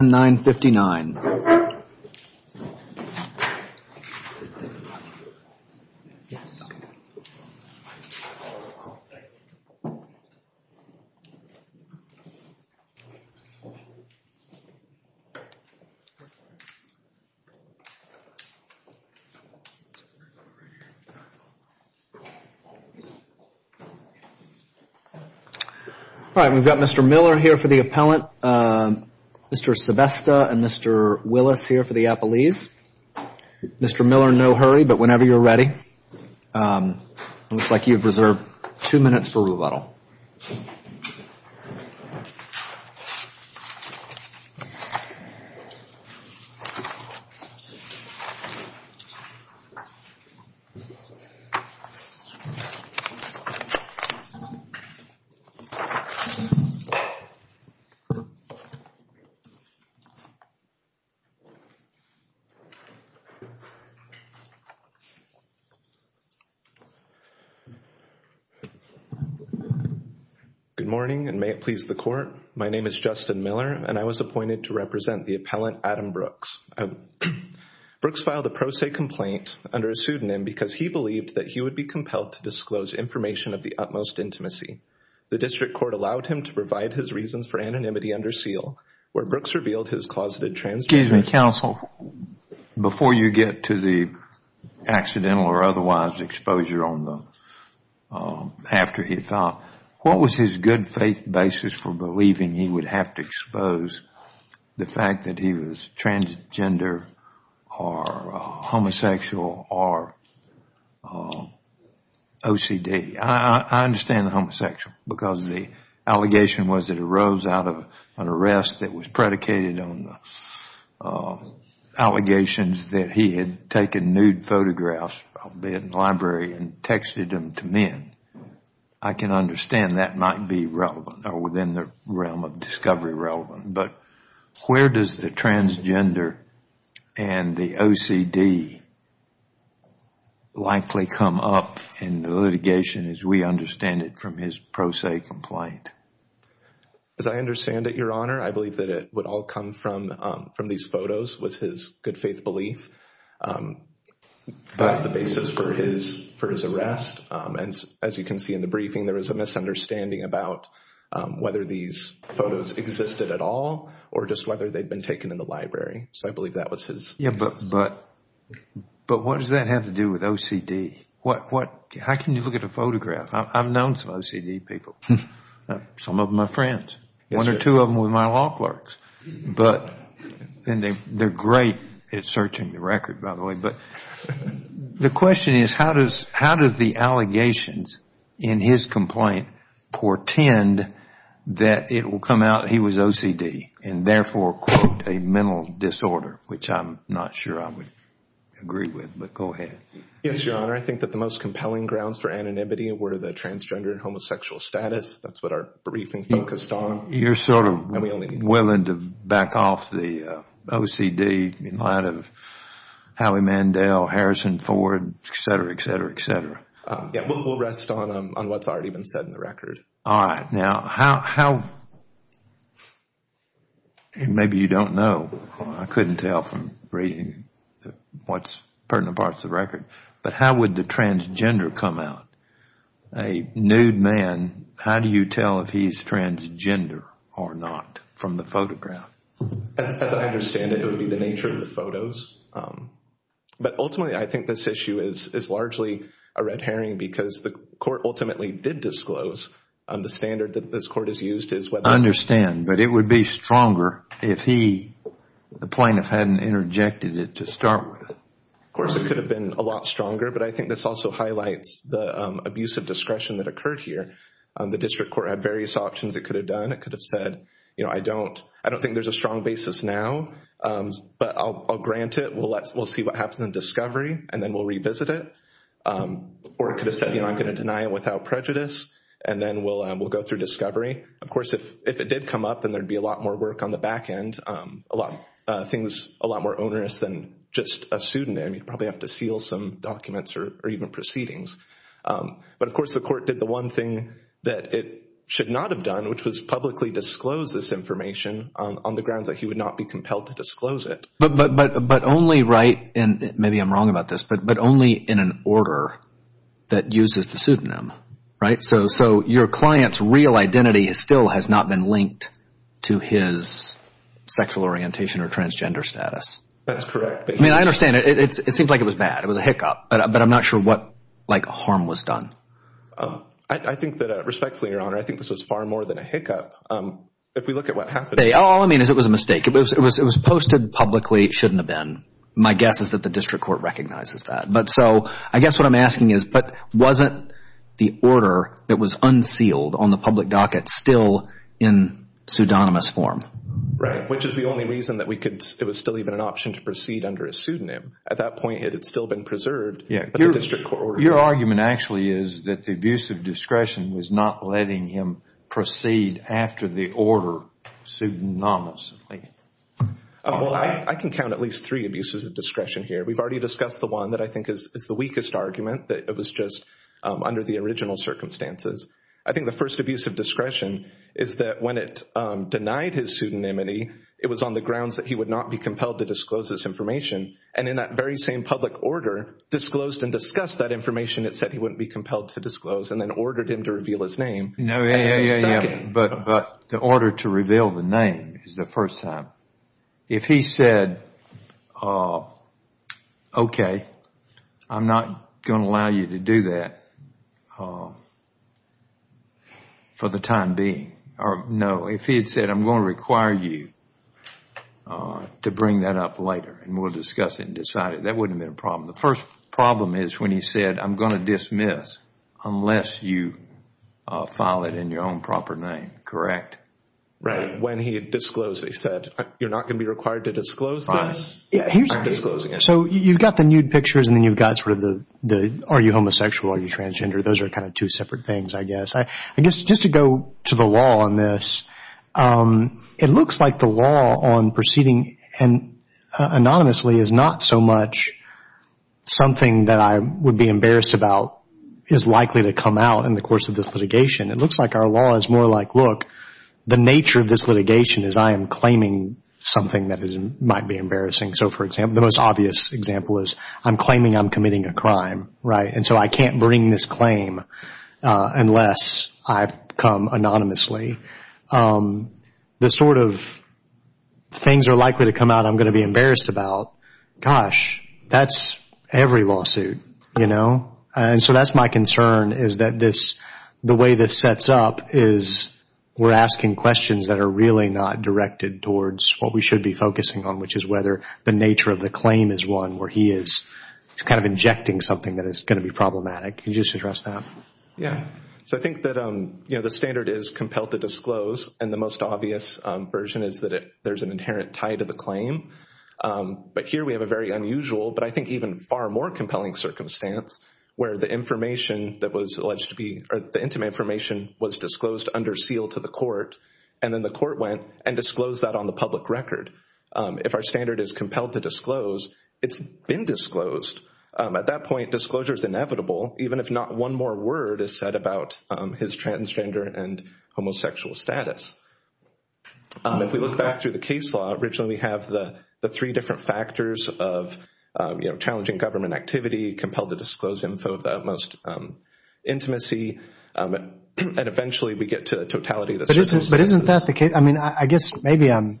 nine fifty nine. All right, we've got Mr. Miller here for the appellant, Mr. Sebesta and Mr. Willis here for the appellees. Mr. Miller, no hurry, but whenever you're ready. It looks like you've Good morning and may it please the court. My name is Justin Miller and I was appointed to represent the appellant Adam Brooks. Brooks filed a pro se complaint under a pseudonym because he believed that he would be compelled to disclose information of the utmost intimacy. The district court allowed him to provide his reasons for anonymity under seal where Brooks revealed his closeted transgender identity. Excuse me, counsel. Before you get to the accidental or otherwise exposure on the, after he thought, what was his good faith basis for believing he would have to expose the fact that he was transgender or homosexual or OCD? I understand the homosexual because the allegation was that it arose out of an arrest that was predicated on allegations that he had taken nude photographs, albeit in the library, and texted them to men. I can understand that might be relevant or within the realm of discovery relevant, but where does the transgender and the OCD likely come up in the litigation as we understand it from his pro se complaint? As I understand it, Your Honor, I believe that it would all come from these photos was his good faith belief. That's the basis for his arrest. And as you can see in the briefing, there was a misunderstanding about whether these photos existed at all or just whether they'd been taken in the library. So I believe that was his. Yeah, but what does that have to do with OCD? How can you look at a photograph? I've known some OCD people. Some of them are friends. One or two of them were my law clerks. They're great at searching the record, by the way. But the question is, how do the allegations in his complaint portend that it will come out he was OCD and therefore, quote, a mental disorder, which I'm not sure I would agree with, but go ahead. Yes, Your Honor. I think that the most compelling grounds for anonymity were the transgender and homosexual status. That's what our briefing focused on. You're sort of willing to back off the OCD in light of Howie Mandel, Harrison Ford, etc., etc., etc.? Yeah, we'll rest on what's already been said in the record. All right. Now, how, maybe you don't know. I couldn't tell from reading what's pertinent in parts of the record. But how would the transgender come out? A nude man, how do you tell if he's transgender or not from the photograph? As I understand it, it would be the nature of the photos. But ultimately, I think this issue is largely a red herring because the court ultimately did disclose the standard that this court has used is whether I understand, but it would be stronger if he, the plaintiff, hadn't interjected it to start with. Of course, it could have been a lot stronger, but I think this also highlights the abuse of discretion that occurred here. The district court had various options it could have done. It could have said, you know, I don't think there's a strong basis now, but I'll grant it. We'll see what happens in discovery, and then we'll revisit it. Or it could have said, you know, I'm going to deny it without prejudice, and then we'll go through discovery. Of course, if it did come up, then there'd be a lot more work on the back end, a lot more onerous than just a pseudonym. You'd probably have to seal some documents or even proceedings. But of course, the court did the one thing that it should not have done, which was publicly disclose this information on the grounds that he would not be compelled to disclose it. But only, right, and maybe I'm wrong about this, but only in an order that uses the pseudonym, right? So your client's real identity still has not been linked to his sexual orientation or transgender status. That's correct. I mean, I understand. It seems like it was bad. It was a hiccup. But I'm not sure what like harm was done. I think that respectfully, Your Honor, I think this was far more than a hiccup. If we look at what happened... All I mean is it was a mistake. It was posted publicly. It shouldn't have been. My guess is that the district court recognizes that. But so I guess what I'm asking is, but wasn't the order that was unsealed on the public docket still in pseudonymous form? Right. Which is the only reason that we could, it was still even an option to proceed under a pseudonym. At that point, it had still been preserved. Yeah. But the district court... Your argument actually is that the abuse of discretion was not letting him proceed after the order pseudonymously. Well, I can count at least three abuses of discretion here. We've already discussed the one that I think is the weakest argument, that it was just under the original circumstances. I think the first abuse of discretion is that when it denied his pseudonymity, it was on the grounds that he would not be compelled to disclose this information. And in that very same public order, disclosed and discussed that information, it said he wouldn't be compelled to disclose and then ordered him to reveal his name. Yeah, yeah, yeah. But the order to reveal the name is the first time. If he said, okay, I'm not going to allow you to do that for the time being, or no, if he had said, I'm going to require you to bring that up later and we'll discuss it and decide it, that wouldn't have been a problem. The first problem is when he said, I'm going to dismiss unless you file it in your own proper name, correct? Right. When he disclosed, he said, you're not going to be required to disclose this? Fine. Yeah, here's the thing. So you've got the nude pictures and then you've got sort of the, are you homosexual, are you transgender? Those are kind of two separate things, I guess. I guess just to go to the law on this, it looks like the law on proceeding anonymously is not so much something that I would be embarrassed about is likely to come out in the course of this litigation. It looks like our law is more like, look, the nature of this litigation is I am claiming something that might be embarrassing. So for example, the most obvious example is I'm claiming I'm committing a crime, right? And so I can't bring this claim unless I've come anonymously. The sort of things are likely to come out I'm going to be embarrassed about, gosh, that's every lawsuit, you know? And so that's my concern is that the way this sets up is we're asking questions that are really not directed towards what we should be focusing on, which is whether the nature of the claim is one where he is kind of injecting something that is going to be problematic. Can you just address that? Yeah. So I think that the standard is compelled to disclose and the most obvious version is that there's an inherent tie to the claim. But here we have a very unusual, but I think even far more compelling circumstance where the information that was alleged to be, or that intimate information was disclosed under seal to the court and then the court went and disclosed that on the public record. If our standard is compelled to disclose, it's been disclosed. At that point, disclosure is inevitable, even if not one more word is said about his transgender and homosexual status. If we look back through the case law, originally we have the three different factors of challenging government activity, compelled to disclose info of the utmost intimacy and eventually we get to the totality of the circumstances. But isn't that the case? I mean, I guess maybe I'm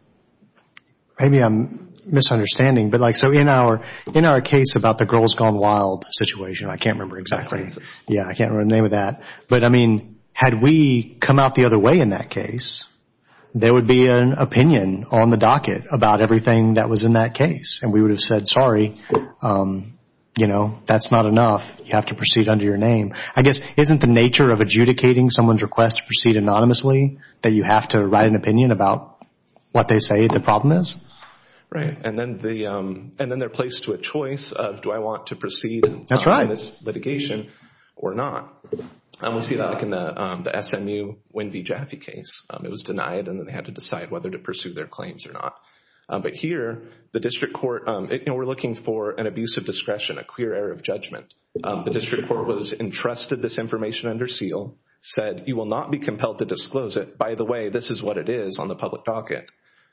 misunderstanding, but like so in our case about the girl's gone wild situation, I can't remember exactly. Yeah, I can't remember the name of that. But I mean, had we come out the other way in that case, there would be an opinion on the docket about everything that was in that case and we would have said, sorry, that's not enough. You have to proceed under your name. I guess, isn't the nature of adjudicating someone's request to proceed anonymously that you have to write an opinion about what they say the problem is? Right, and then they're placed to a choice of do I want to proceed in this litigation or not. We'll see that in the SMU Winn v. Jaffe case. It was denied and then they had to decide whether to pursue their claims or not. But here, the district court, we're looking for an abuse of discretion, a clear error of judgment. The district court was entrusted this information under seal, said you will not be compelled to disclose it. By the way, this is what it is on the public docket.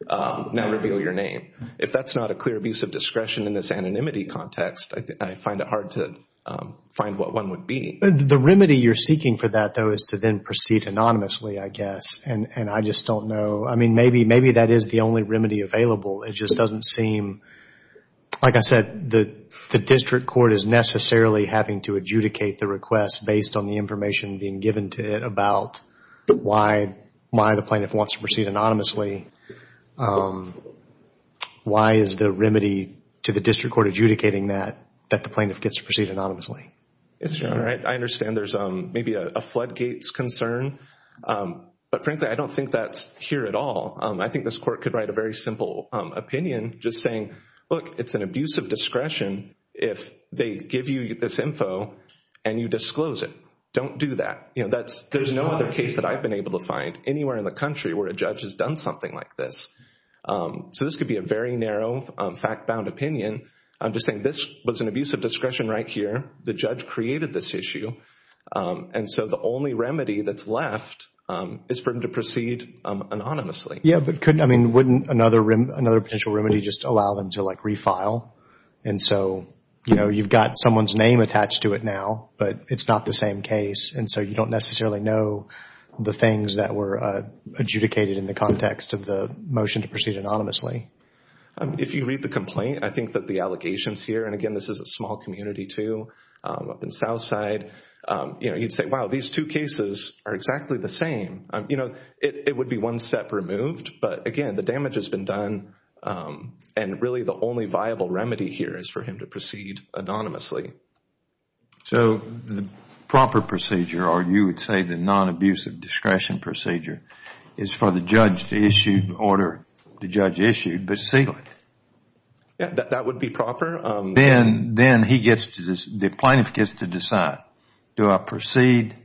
Now reveal your name. If that's not a clear abuse of discretion in this anonymity context, I find it hard to find what one would be. The remedy you're seeking for that though is to then proceed anonymously, I guess, and I just don't know. Maybe that is the only remedy available. It just doesn't seem, like I said, the district court is necessarily having to adjudicate the request based on the information being given to it about why the plaintiff wants to proceed anonymously. Why is the remedy to the district court adjudicating that, that the plaintiff gets to proceed anonymously? It's all right. I understand there's maybe a floodgates concern. But frankly, I don't think that's here at all. I think this court could write a very simple opinion just saying, look, it's an abuse of discretion if they give you this info and you disclose it. Don't do that. You know, there's no other case that I've been able to find anywhere in the country where a judge has done something like this. So this could be a very narrow, fact-bound opinion. I'm just saying this was an abuse of discretion right here. The judge created this issue. And so the only remedy that's left is for him to proceed anonymously. Yeah, but couldn't, I mean, wouldn't another, another potential remedy just allow them to like refile? And so, you know, you've got someone's name attached to it now, but it's not the same case. And so you don't necessarily know the things that were adjudicated in the context of the motion to proceed anonymously. If you read the complaint, I think that the allegations here, and again, this is a small community too, up in Southside, you know, you'd say, wow, these two cases are exactly the same. You know, it would be one step removed. But again, the damage has been done. And really the only viable remedy here is for him to proceed anonymously. So the proper procedure, or you would say the non-abusive discretion procedure, is for the judge to issue order, the judge issued, but seal it. That would be proper. Then, then he gets to, the plaintiff gets to decide, do I proceed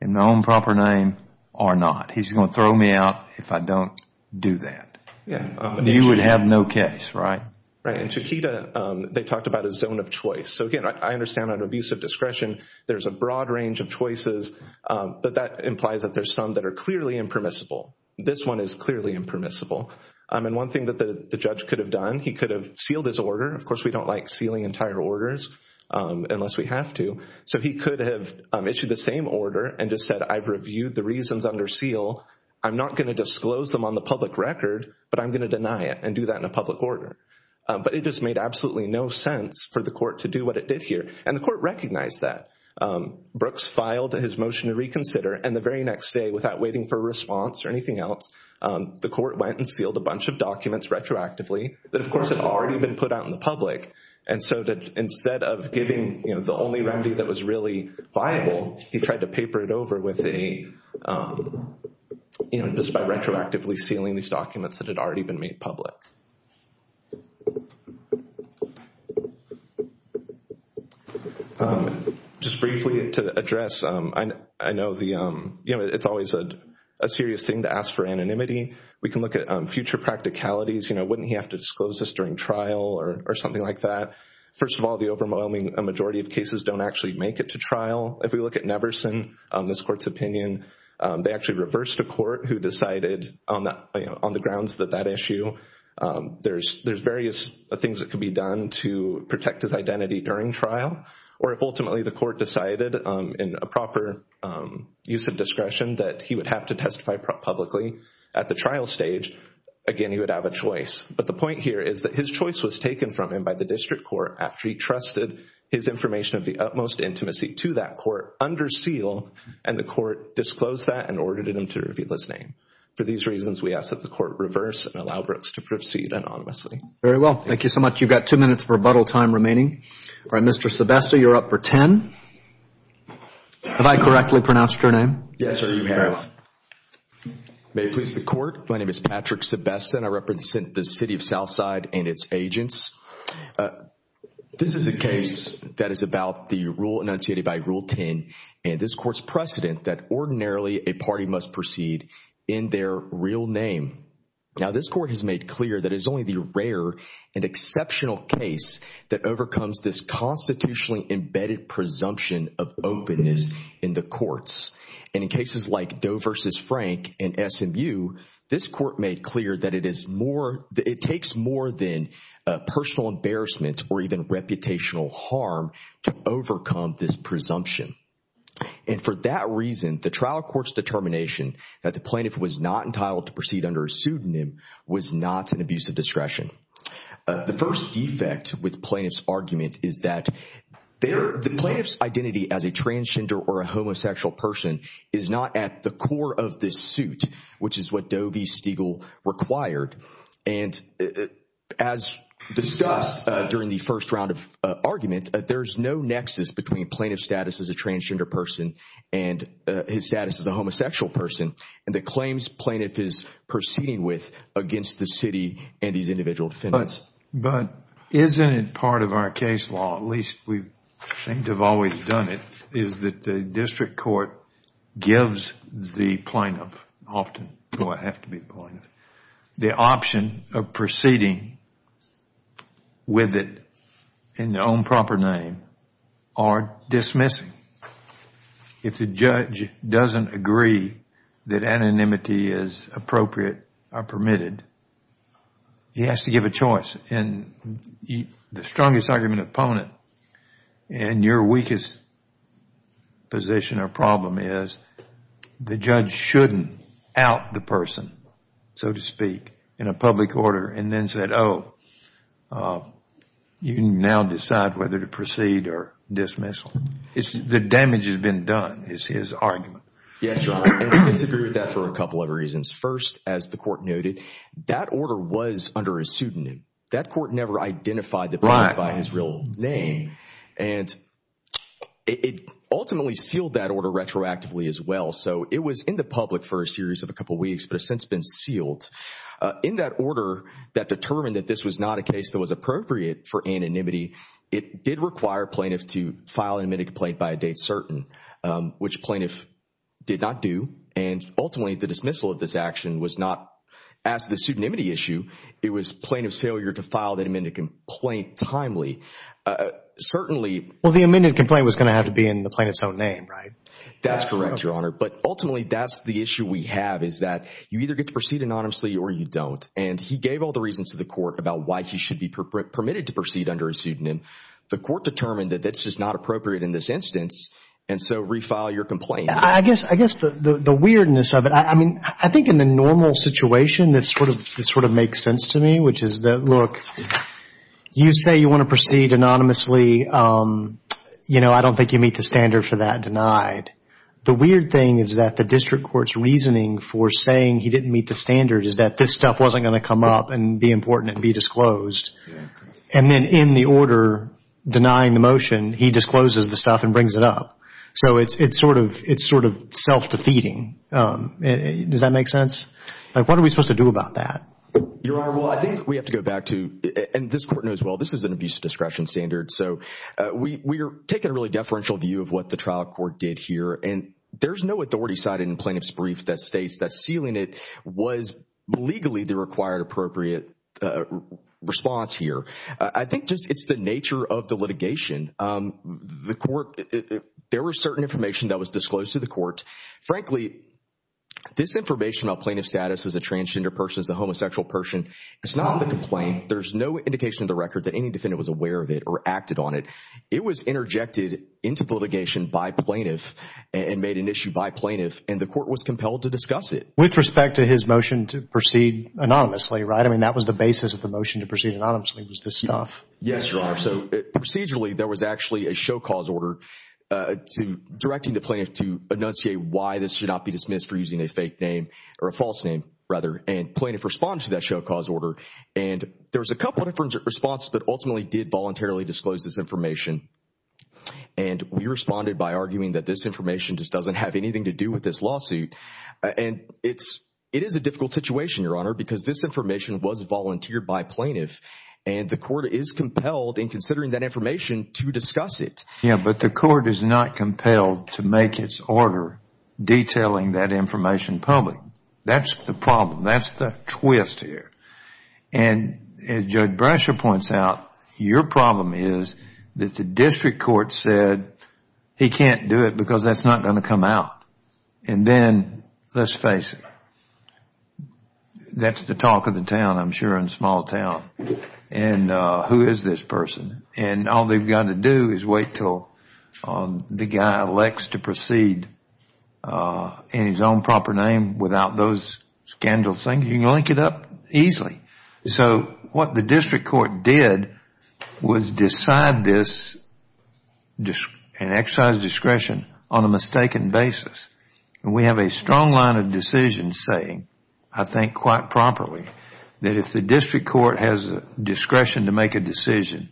in my own proper name or not? He's going to throw me out if I don't do that. You would have no case, right? Right. And Chiquita, they talked about a zone of choice. So again, I understand under abusive discretion there's a broad range of choices, but that implies that there's some that are clearly impermissible. This one is clearly impermissible. And one thing that the judge could have done, he could have sealed his order. Of course, we don't like sealing entire orders unless we have to. So he could have issued the same order and just said, I've reviewed the reasons under seal. I'm not going to disclose them on the public record, but I'm going to deny it and do that in a public order. But it just made absolutely no sense for the court to do what it did here. And the court recognized that. Brooks filed his motion to reconsider, and the very next day, without waiting for a response or anything else, the court went and sealed a bunch of documents retroactively that, of course, had already been put out in the public. And so that instead of giving the only remedy that was really viable, he tried to paper it over just by retroactively sealing these documents that had already been made public. Just briefly to address, I know it's always a serious thing to ask for anonymity. We can look at future practicalities. Wouldn't he have to disclose this during trial or something like that? First of all, the overwhelming majority of cases don't actually make it to trial. If we look at Neverson, this court's opinion, they actually reversed a court who decided on the grounds that that issue, there's various things that could be done to protect his identity during trial. Or if ultimately the court decided in a proper use of discretion that he would have to testify publicly at the trial stage, again, he would have a choice. But the point here is that his choice was taken from him by the district court after he trusted his information of the utmost intimacy to that court under seal, and the court disclosed that and ordered him to reveal his name. For these reasons, we ask that the court reverse and allow Brooks to proceed anonymously. Very well. Thank you so much. You've got two minutes for rebuttal time remaining. All right, Mr. Sebesta, you're up for 10. Have I correctly pronounced your name? Yes, sir, you have. May it please the court, my name is Patrick Sebesta, and I represent the City of Southside and its agents. This is a case that is about the rule enunciated by Rule 10 and this court's precedent that ordinarily a party must proceed in their real name. Now, this court has made clear that it's only the rare and exceptional case that overcomes this constitutionally embedded presumption of openness in the courts. In cases like Doe versus Frank and SMU, this court made clear that it takes more than personal to overcome this presumption. And for that reason, the trial court's determination that the plaintiff was not entitled to proceed under a pseudonym was not an abuse of discretion. The first defect with plaintiff's argument is that the plaintiff's identity as a transgender or a homosexual person is not at the core of this suit, which is what Doe v. Stiegel required. And as discussed during the first round of argument, there's no nexus between plaintiff's status as a transgender person and his status as a homosexual person and the claims plaintiff is proceeding with against the city and these individual defendants. But isn't it part of our case law, at least we seem to have always done it, is that the court gives the plaintiff, often, do I have to be the plaintiff, the option of proceeding with it in their own proper name or dismissing. If the judge doesn't agree that anonymity is appropriate or permitted, he has to give a choice. And the strongest argument opponent and your weakest position or problem is the judge shouldn't out the person, so to speak, in a public order and then said, oh, you can now decide whether to proceed or dismiss. The damage has been done is his argument. Yes, Your Honor. And I disagree with that for a couple of reasons. First, as the court noted, that order was under a pseudonym. That court never identified the plaintiff by his real name and it ultimately sealed that order retroactively as well. So it was in the public for a series of a couple of weeks, but it's since been sealed. In that order that determined that this was not a case that was appropriate for anonymity, it did require plaintiff to file an amended complaint by a date certain, which plaintiff did not do. And ultimately, the dismissal of this action was not as the pseudonymity issue. It was plaintiff's failure to file that amended complaint timely. Certainly, Well, the amended complaint was going to have to be in the plaintiff's own name, right? That's correct, Your Honor. But ultimately, that's the issue we have is that you either get to proceed anonymously or you don't. And he gave all the reasons to the court about why he should be permitted to proceed under a pseudonym. The court determined that that's just not appropriate in this instance. And so refile your complaint. I guess the weirdness of it, I mean, I think in the normal situation that sort of makes sense to me, which is that, look, you say you want to proceed anonymously. You know, I don't think you meet the standard for that denied. The weird thing is that the district court's reasoning for saying he didn't meet the standard is that this stuff wasn't going to come up and be important and be disclosed. And then in the order denying the motion, he discloses the stuff and brings it up. So it's sort of self-defeating. Does that make sense? What are we supposed to do about that? Your Honor, well, I think we have to go back to, and this court knows well, this is an abuse of discretion standard. So we are taking a really deferential view of what the trial court did here. And there's no authority cited in plaintiff's brief that states that sealing it was legally the required appropriate response here. I think just it's the nature of the litigation. The court, there was certain information that was disclosed to the court. Frankly, this information about plaintiff status as a transgender person, as a homosexual person, it's not on the complaint. There's no indication of the record that any defendant was aware of it or acted on it. It was interjected into the litigation by plaintiff and made an issue by plaintiff. And the court was compelled to discuss it. With respect to his motion to proceed anonymously, right? I mean, that was the basis of the motion to proceed anonymously was this stuff. Yes, Your Honor. So procedurally, there was actually a show cause order directing the plaintiff to enunciate why this should not be dismissed for using a fake name or a false name rather. And plaintiff responded to that show cause order. And there was a couple of different responses that ultimately did voluntarily disclose this information. And we responded by arguing that this information just doesn't have anything to do with this lawsuit. And it is a difficult situation, Your Honor, because this information was volunteered by plaintiff. And the court is compelled in considering that information to discuss it. Yeah, but the court is not compelled to make its order detailing that information public. That's the problem. That's the twist here. And as Judge Brasher points out, your problem is that the district court said he can't do it because that's not going to come out. And then let's face it, that's the talk of the town, I'm sure, in a small town. And who is this person? And all they've got to do is wait until the guy elects to proceed in his own proper name without those scandal things. You can link it up easily. So what the district court did was decide this and exercise discretion on a mistaken basis. And we have a strong line of decision saying, I think quite properly, that if the district court has the discretion to make a decision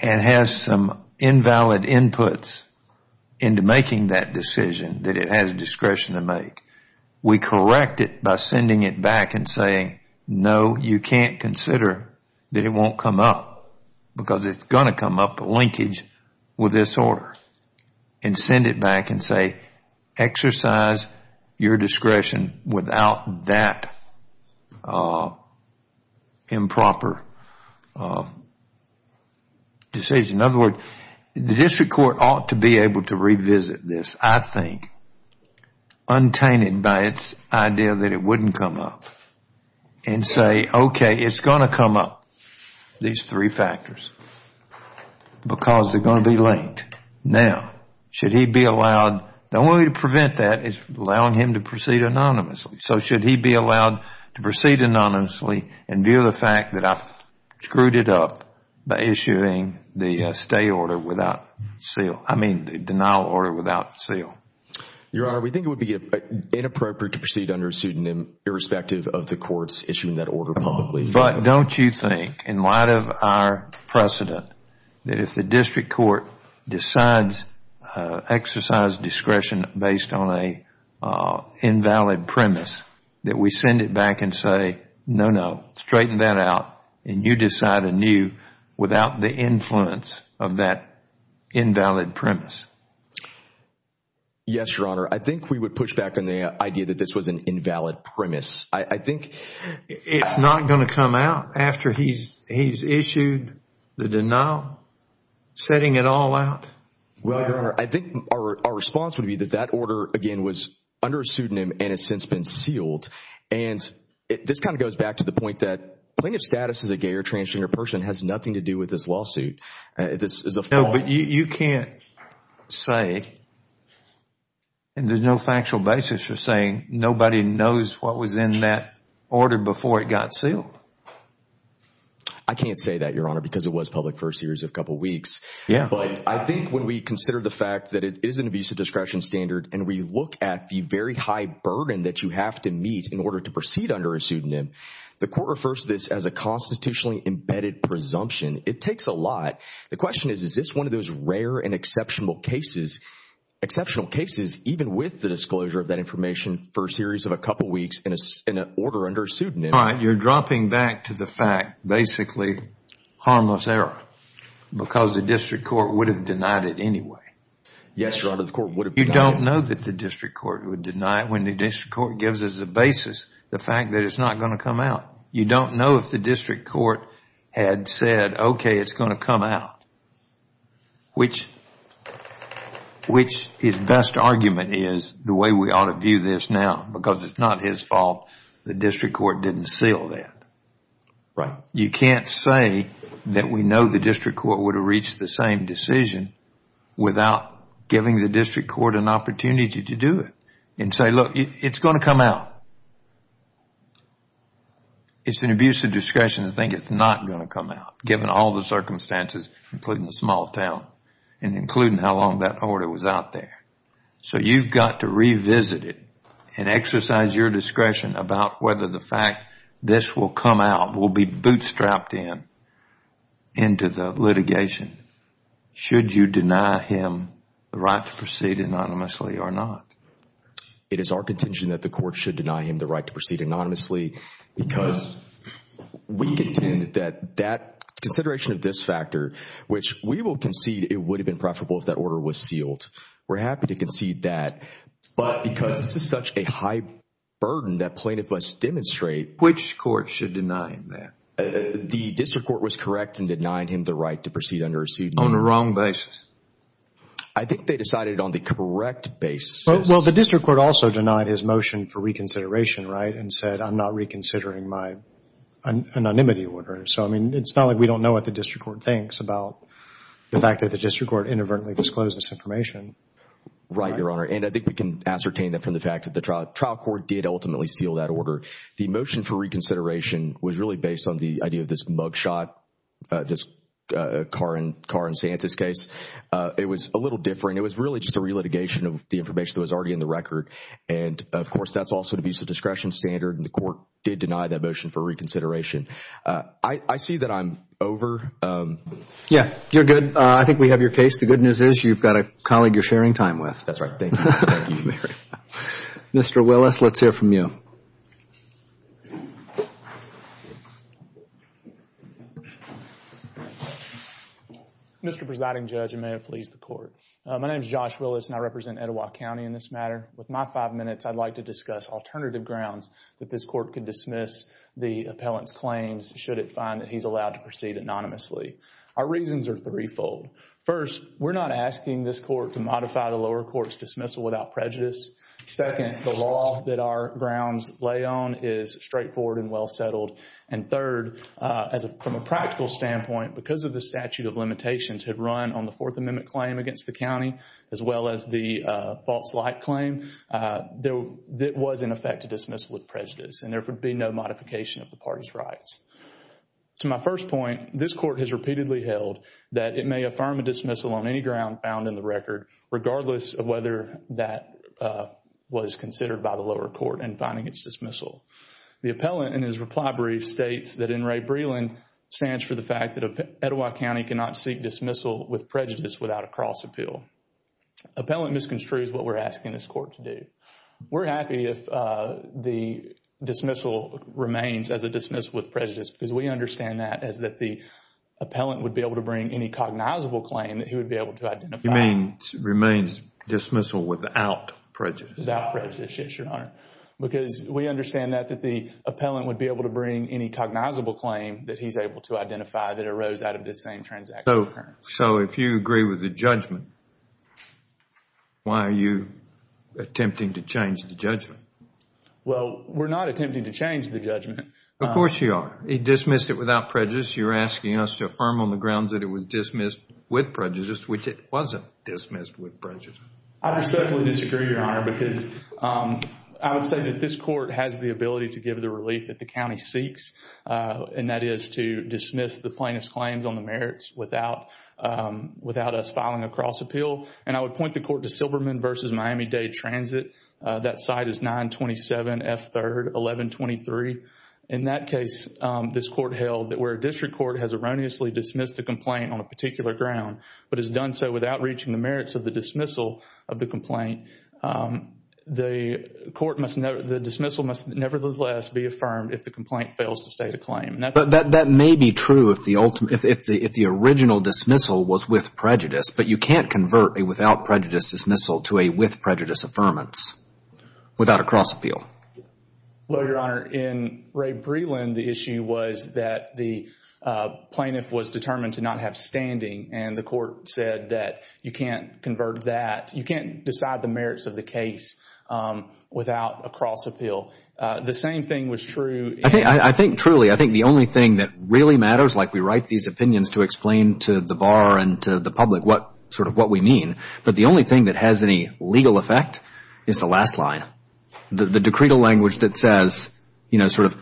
and has some invalid inputs into making that decision that it has discretion to make, we correct it by sending it back and saying, no, you can't consider that it won't come up because it's going to come up a linkage with this order. And send it back and say, exercise your discretion without that improper decision. In other words, the district court ought to be able to revisit this, I think, untainted by its idea that it wouldn't come up and say, okay, it's going to come up, these three factors, because they're going to be linked. Now, should he be allowed, the only way to prevent that is allowing him to proceed anonymously. So should he be allowed to proceed anonymously and view the fact that I screwed it up by issuing the stay order without seal, I mean, the denial order without seal? Your Honor, we think it would be inappropriate to proceed under a pseudonym irrespective of the courts issuing that order publicly. But don't you think, in light of our precedent, that if the district court decides exercise discretion based on an invalid premise, that we send it back and say, no, no, straighten that out and you decide anew without the influence of that invalid premise? Yes, Your Honor. I think we would push back on the idea that this was an invalid premise. I think it's not going to come out after he's issued the denial, setting it all out. Well, Your Honor, I think our response would be that that order, again, was under a pseudonym and has since been sealed. And this kind of goes back to the point that plaintiff's status as a gay or transgender person has nothing to do with this lawsuit. This is a form. No, but you can't say, and there's no factual basis for saying, nobody knows what was in that order before it got sealed. I can't say that, Your Honor, because it was public for a series of couple weeks. Yeah. But I think when we consider the fact that it is an abuse of discretion standard and we look at the very high burden that you have to meet in order to proceed under a pseudonym, the court refers to this as a constitutionally embedded presumption. It takes a lot. The question is, is this one of those rare and exceptional cases, exceptional cases, even with the disclosure of that information for a series of a couple weeks in an order under a pseudonym? All right. You're dropping back to the fact, basically, harmless error because the district court would have denied it anyway. Yes, Your Honor, the court would have denied it. You don't know that the district court would deny it when the district court gives us a basis, the fact that it's not going to come out. You don't know if the district court had said, okay, it's going to come out, which his best argument is the way we ought to view this now because it's not his fault the district court didn't seal that. Right. You can't say that we know the district court would have reached the same decision without giving the district court an opportunity to do it and say, look, it's going to come out. It's an abuse of discretion to think it's not going to come out given all the circumstances, including the small town and including how long that order was out there. So you've got to revisit it and exercise your discretion about whether the fact this will come out will be bootstrapped into the litigation should you deny him the right to proceed anonymously or not. It is our contention that the court should deny him the right to proceed anonymously because we contend that that consideration of this factor, which we will concede it would have been preferable if that order was sealed. We're happy to concede that, but because this is such a high burden that plaintiff must demonstrate. Which court should deny him that? The district court was correct in denying him the right to proceed under a seat. On the wrong basis. I think they decided on the correct basis. Well, the district court also denied his motion for reconsideration, right? And said, I'm not reconsidering my anonymity order. So, I mean, it's not like we don't know what the district court thinks about the fact that the district court inadvertently disclosed this information. Right, Your Honor. And I think we can ascertain that from the fact that the trial court did ultimately seal that order. The motion for reconsideration was really based on the idea of this mugshot, this Carr and Santis case. It was a little different. It was really just a relitigation of the information that was already in the record. And, of course, that's also an abuse of discretion standard, and the court did deny that motion for reconsideration. I see that I'm over. Yeah, you're good. I think we have your case. The good news is you've got a colleague you're sharing time with. That's right. Thank you, Mary. Mr. Willis, let's hear from you. Mr. Presiding Judge, and may it please the Court. My name is Josh Willis, and I represent Etowah County in this matter. With my five minutes, I'd like to discuss alternative grounds that this court could dismiss the appellant's claims should it find that he's allowed to proceed anonymously. Our reasons are threefold. First, we're not asking this court to modify the lower court's dismissal without prejudice. Second, the law that our grounds lay on is straightforward and well settled. And third, from a practical standpoint, because of the statute of limitations had run on the county as well as the false light claim, there was, in effect, a dismissal with prejudice, and there would be no modification of the party's rights. To my first point, this court has repeatedly held that it may affirm a dismissal on any ground found in the record, regardless of whether that was considered by the lower court in finding its dismissal. The appellant, in his reply brief, states that N. Ray Breland stands for the fact that Etowah County cannot seek dismissal with prejudice without a cross appeal. Appellant misconstrues what we're asking this court to do. We're happy if the dismissal remains as a dismissal with prejudice because we understand that as that the appellant would be able to bring any cognizable claim that he would be able to identify. You mean remains dismissal without prejudice? Without prejudice, yes, Your Honor. Because we understand that the appellant would be able to bring any cognizable claim that he's able to identify that arose out of this same transaction occurrence. So if you agree with the judgment, why are you attempting to change the judgment? Well, we're not attempting to change the judgment. Of course you are. He dismissed it without prejudice. You're asking us to affirm on the grounds that it was dismissed with prejudice, which it wasn't dismissed with prejudice. I respectfully disagree, Your Honor, because I would say that this court has the ability to give the relief that the county seeks, and that is to dismiss the plaintiff's claims on the merits without us filing a cross appeal. And I would point the court to Silberman v. Miami-Dade Transit. That site is 927 F. 3rd 1123. In that case, this court held that where a district court has erroneously dismissed a complaint on a particular ground but has done so without reaching the merits of the dismissal of the complaint, the dismissal must nevertheless be affirmed if the complaint fails to state a claim. But that may be true if the original dismissal was with prejudice, but you can't convert a without prejudice dismissal to a with prejudice affirmance without a cross appeal. Well, Your Honor, in Ray Breland, the issue was that the plaintiff was determined to not have standing, and the court said that you can't convert that. You can't decide the merits of the case without a cross appeal. The same thing was true. I think truly, I think the only thing that really matters, like we write these opinions to explain to the bar and to the public what sort of what we mean, but the only thing that has any legal effect is the last line, the decretal language that says, you know, sort of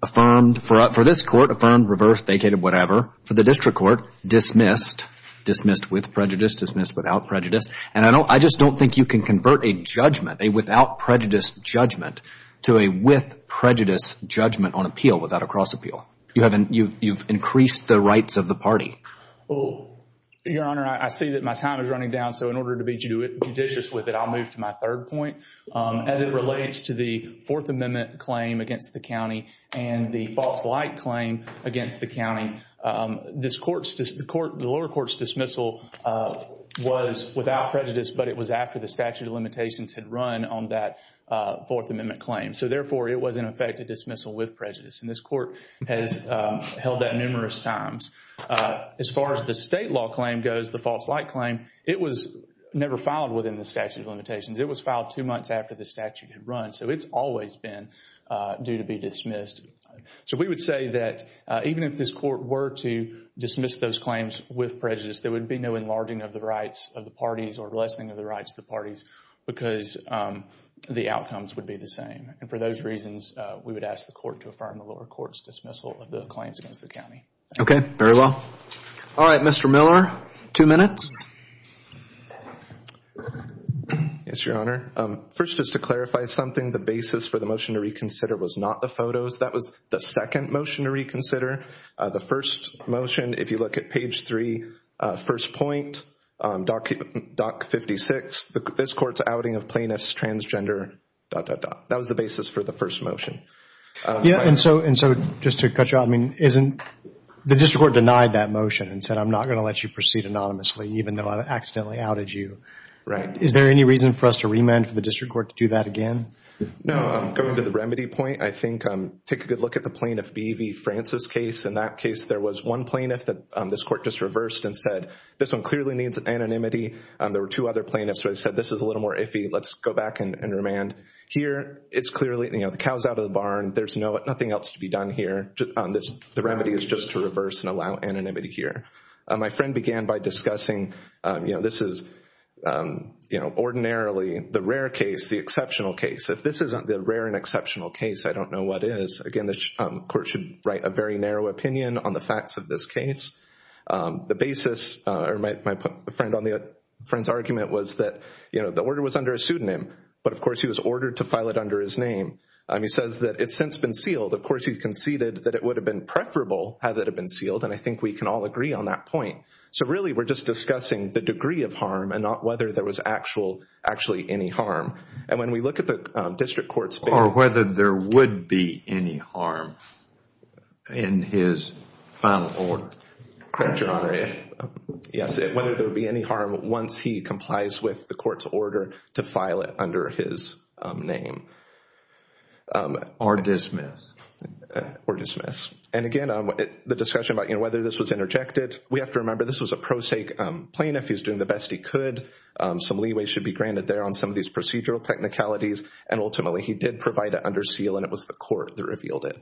affirmed for this court, affirmed, reversed, vacated, whatever. For the district court, dismissed, dismissed with prejudice, dismissed without prejudice. And I don't, I just don't think you can convert a judgment, a without prejudice judgment to a with prejudice judgment on appeal without a cross appeal. You haven't, you've increased the rights of the party. Well, Your Honor, I see that my time is running down. So in order to be judicious with it, I'll move to my third point. As it relates to the Fourth Amendment claim against the county and the false light claim against the county, this court's, the lower court's dismissal was without prejudice, but it was after the statute of limitations had run on that Fourth Amendment claim. So therefore, it was in effect a dismissal with prejudice. And this court has held that numerous times. As far as the state law claim goes, the false light claim, it was never filed within the statute of limitations. It was filed two months after the statute had run. So it's always been due to be dismissed. So we would say that even if this court were to dismiss those claims with prejudice, there would be no enlarging of the rights of the parties or lessening of the rights of the parties because the outcomes would be the same. And for those reasons, we would ask the court to affirm the lower court's dismissal of the claims against the county. Okay, very well. All right, Mr. Miller, two minutes. Yes, Your Honor. First, just to clarify something, the basis for the motion to reconsider was not the photos that was the second motion to reconsider. The first motion, if you look at page three, first point, doc 56, this court's outing of plaintiffs transgender, dot, dot, dot. That was the basis for the first motion. Yeah, and so just to cut you off, the district court denied that motion and said I'm not going to let you proceed anonymously even though I accidentally outed you. Right. Is there any reason for us to remand for the district court to do that again? No, going to the remedy point. I think take a good look at the plaintiff B.V. Francis case. In that case, there was one plaintiff that this court just reversed and said this one clearly needs anonymity. There were two other plaintiffs where they said this is a little more iffy. Let's go back and remand. Here, it's clearly, you know, the cow's out of the barn. There's nothing else to be done here. The remedy is just to reverse and allow anonymity here. My friend began by discussing, you know, this is, you know, ordinarily the rare case, the exceptional case. If this isn't the rare and exceptional case, I don't know what is. Again, the court should write a very narrow opinion on the facts of this case. The basis, or my friend's argument was that, you know, the order was under a pseudonym, but of course, he was ordered to file it under his name. He says that it's since been sealed. Of course, he conceded that it would have been preferable had it been sealed, and I think we can all agree on that point. So really, we're just discussing the degree of harm and not whether there was actually any harm. And when we look at the district court's... Or whether there would be any harm in his final order. Correct, Your Honor. Yes, whether there would be any harm once he complies with the court's order to file it under his name. Or dismiss. Or dismiss. And again, the discussion about, you know, whether this was interjected, we have to remember this was a pro se plaintiff. He was doing the best he could. Some leeway should be granted there on some of these procedural technicalities. And ultimately, he did provide it under seal, and it was the court that revealed it.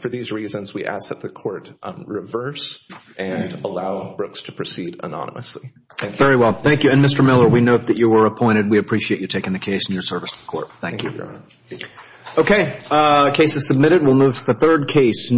For these reasons, we ask that the court reverse and allow Brooks to proceed anonymously. Thank you. Very well. Thank you. And Mr. Miller, we note that you were appointed. We appreciate you taking the case in your service to the court. Thank you. Okay. Case is submitted. We'll move to the third case.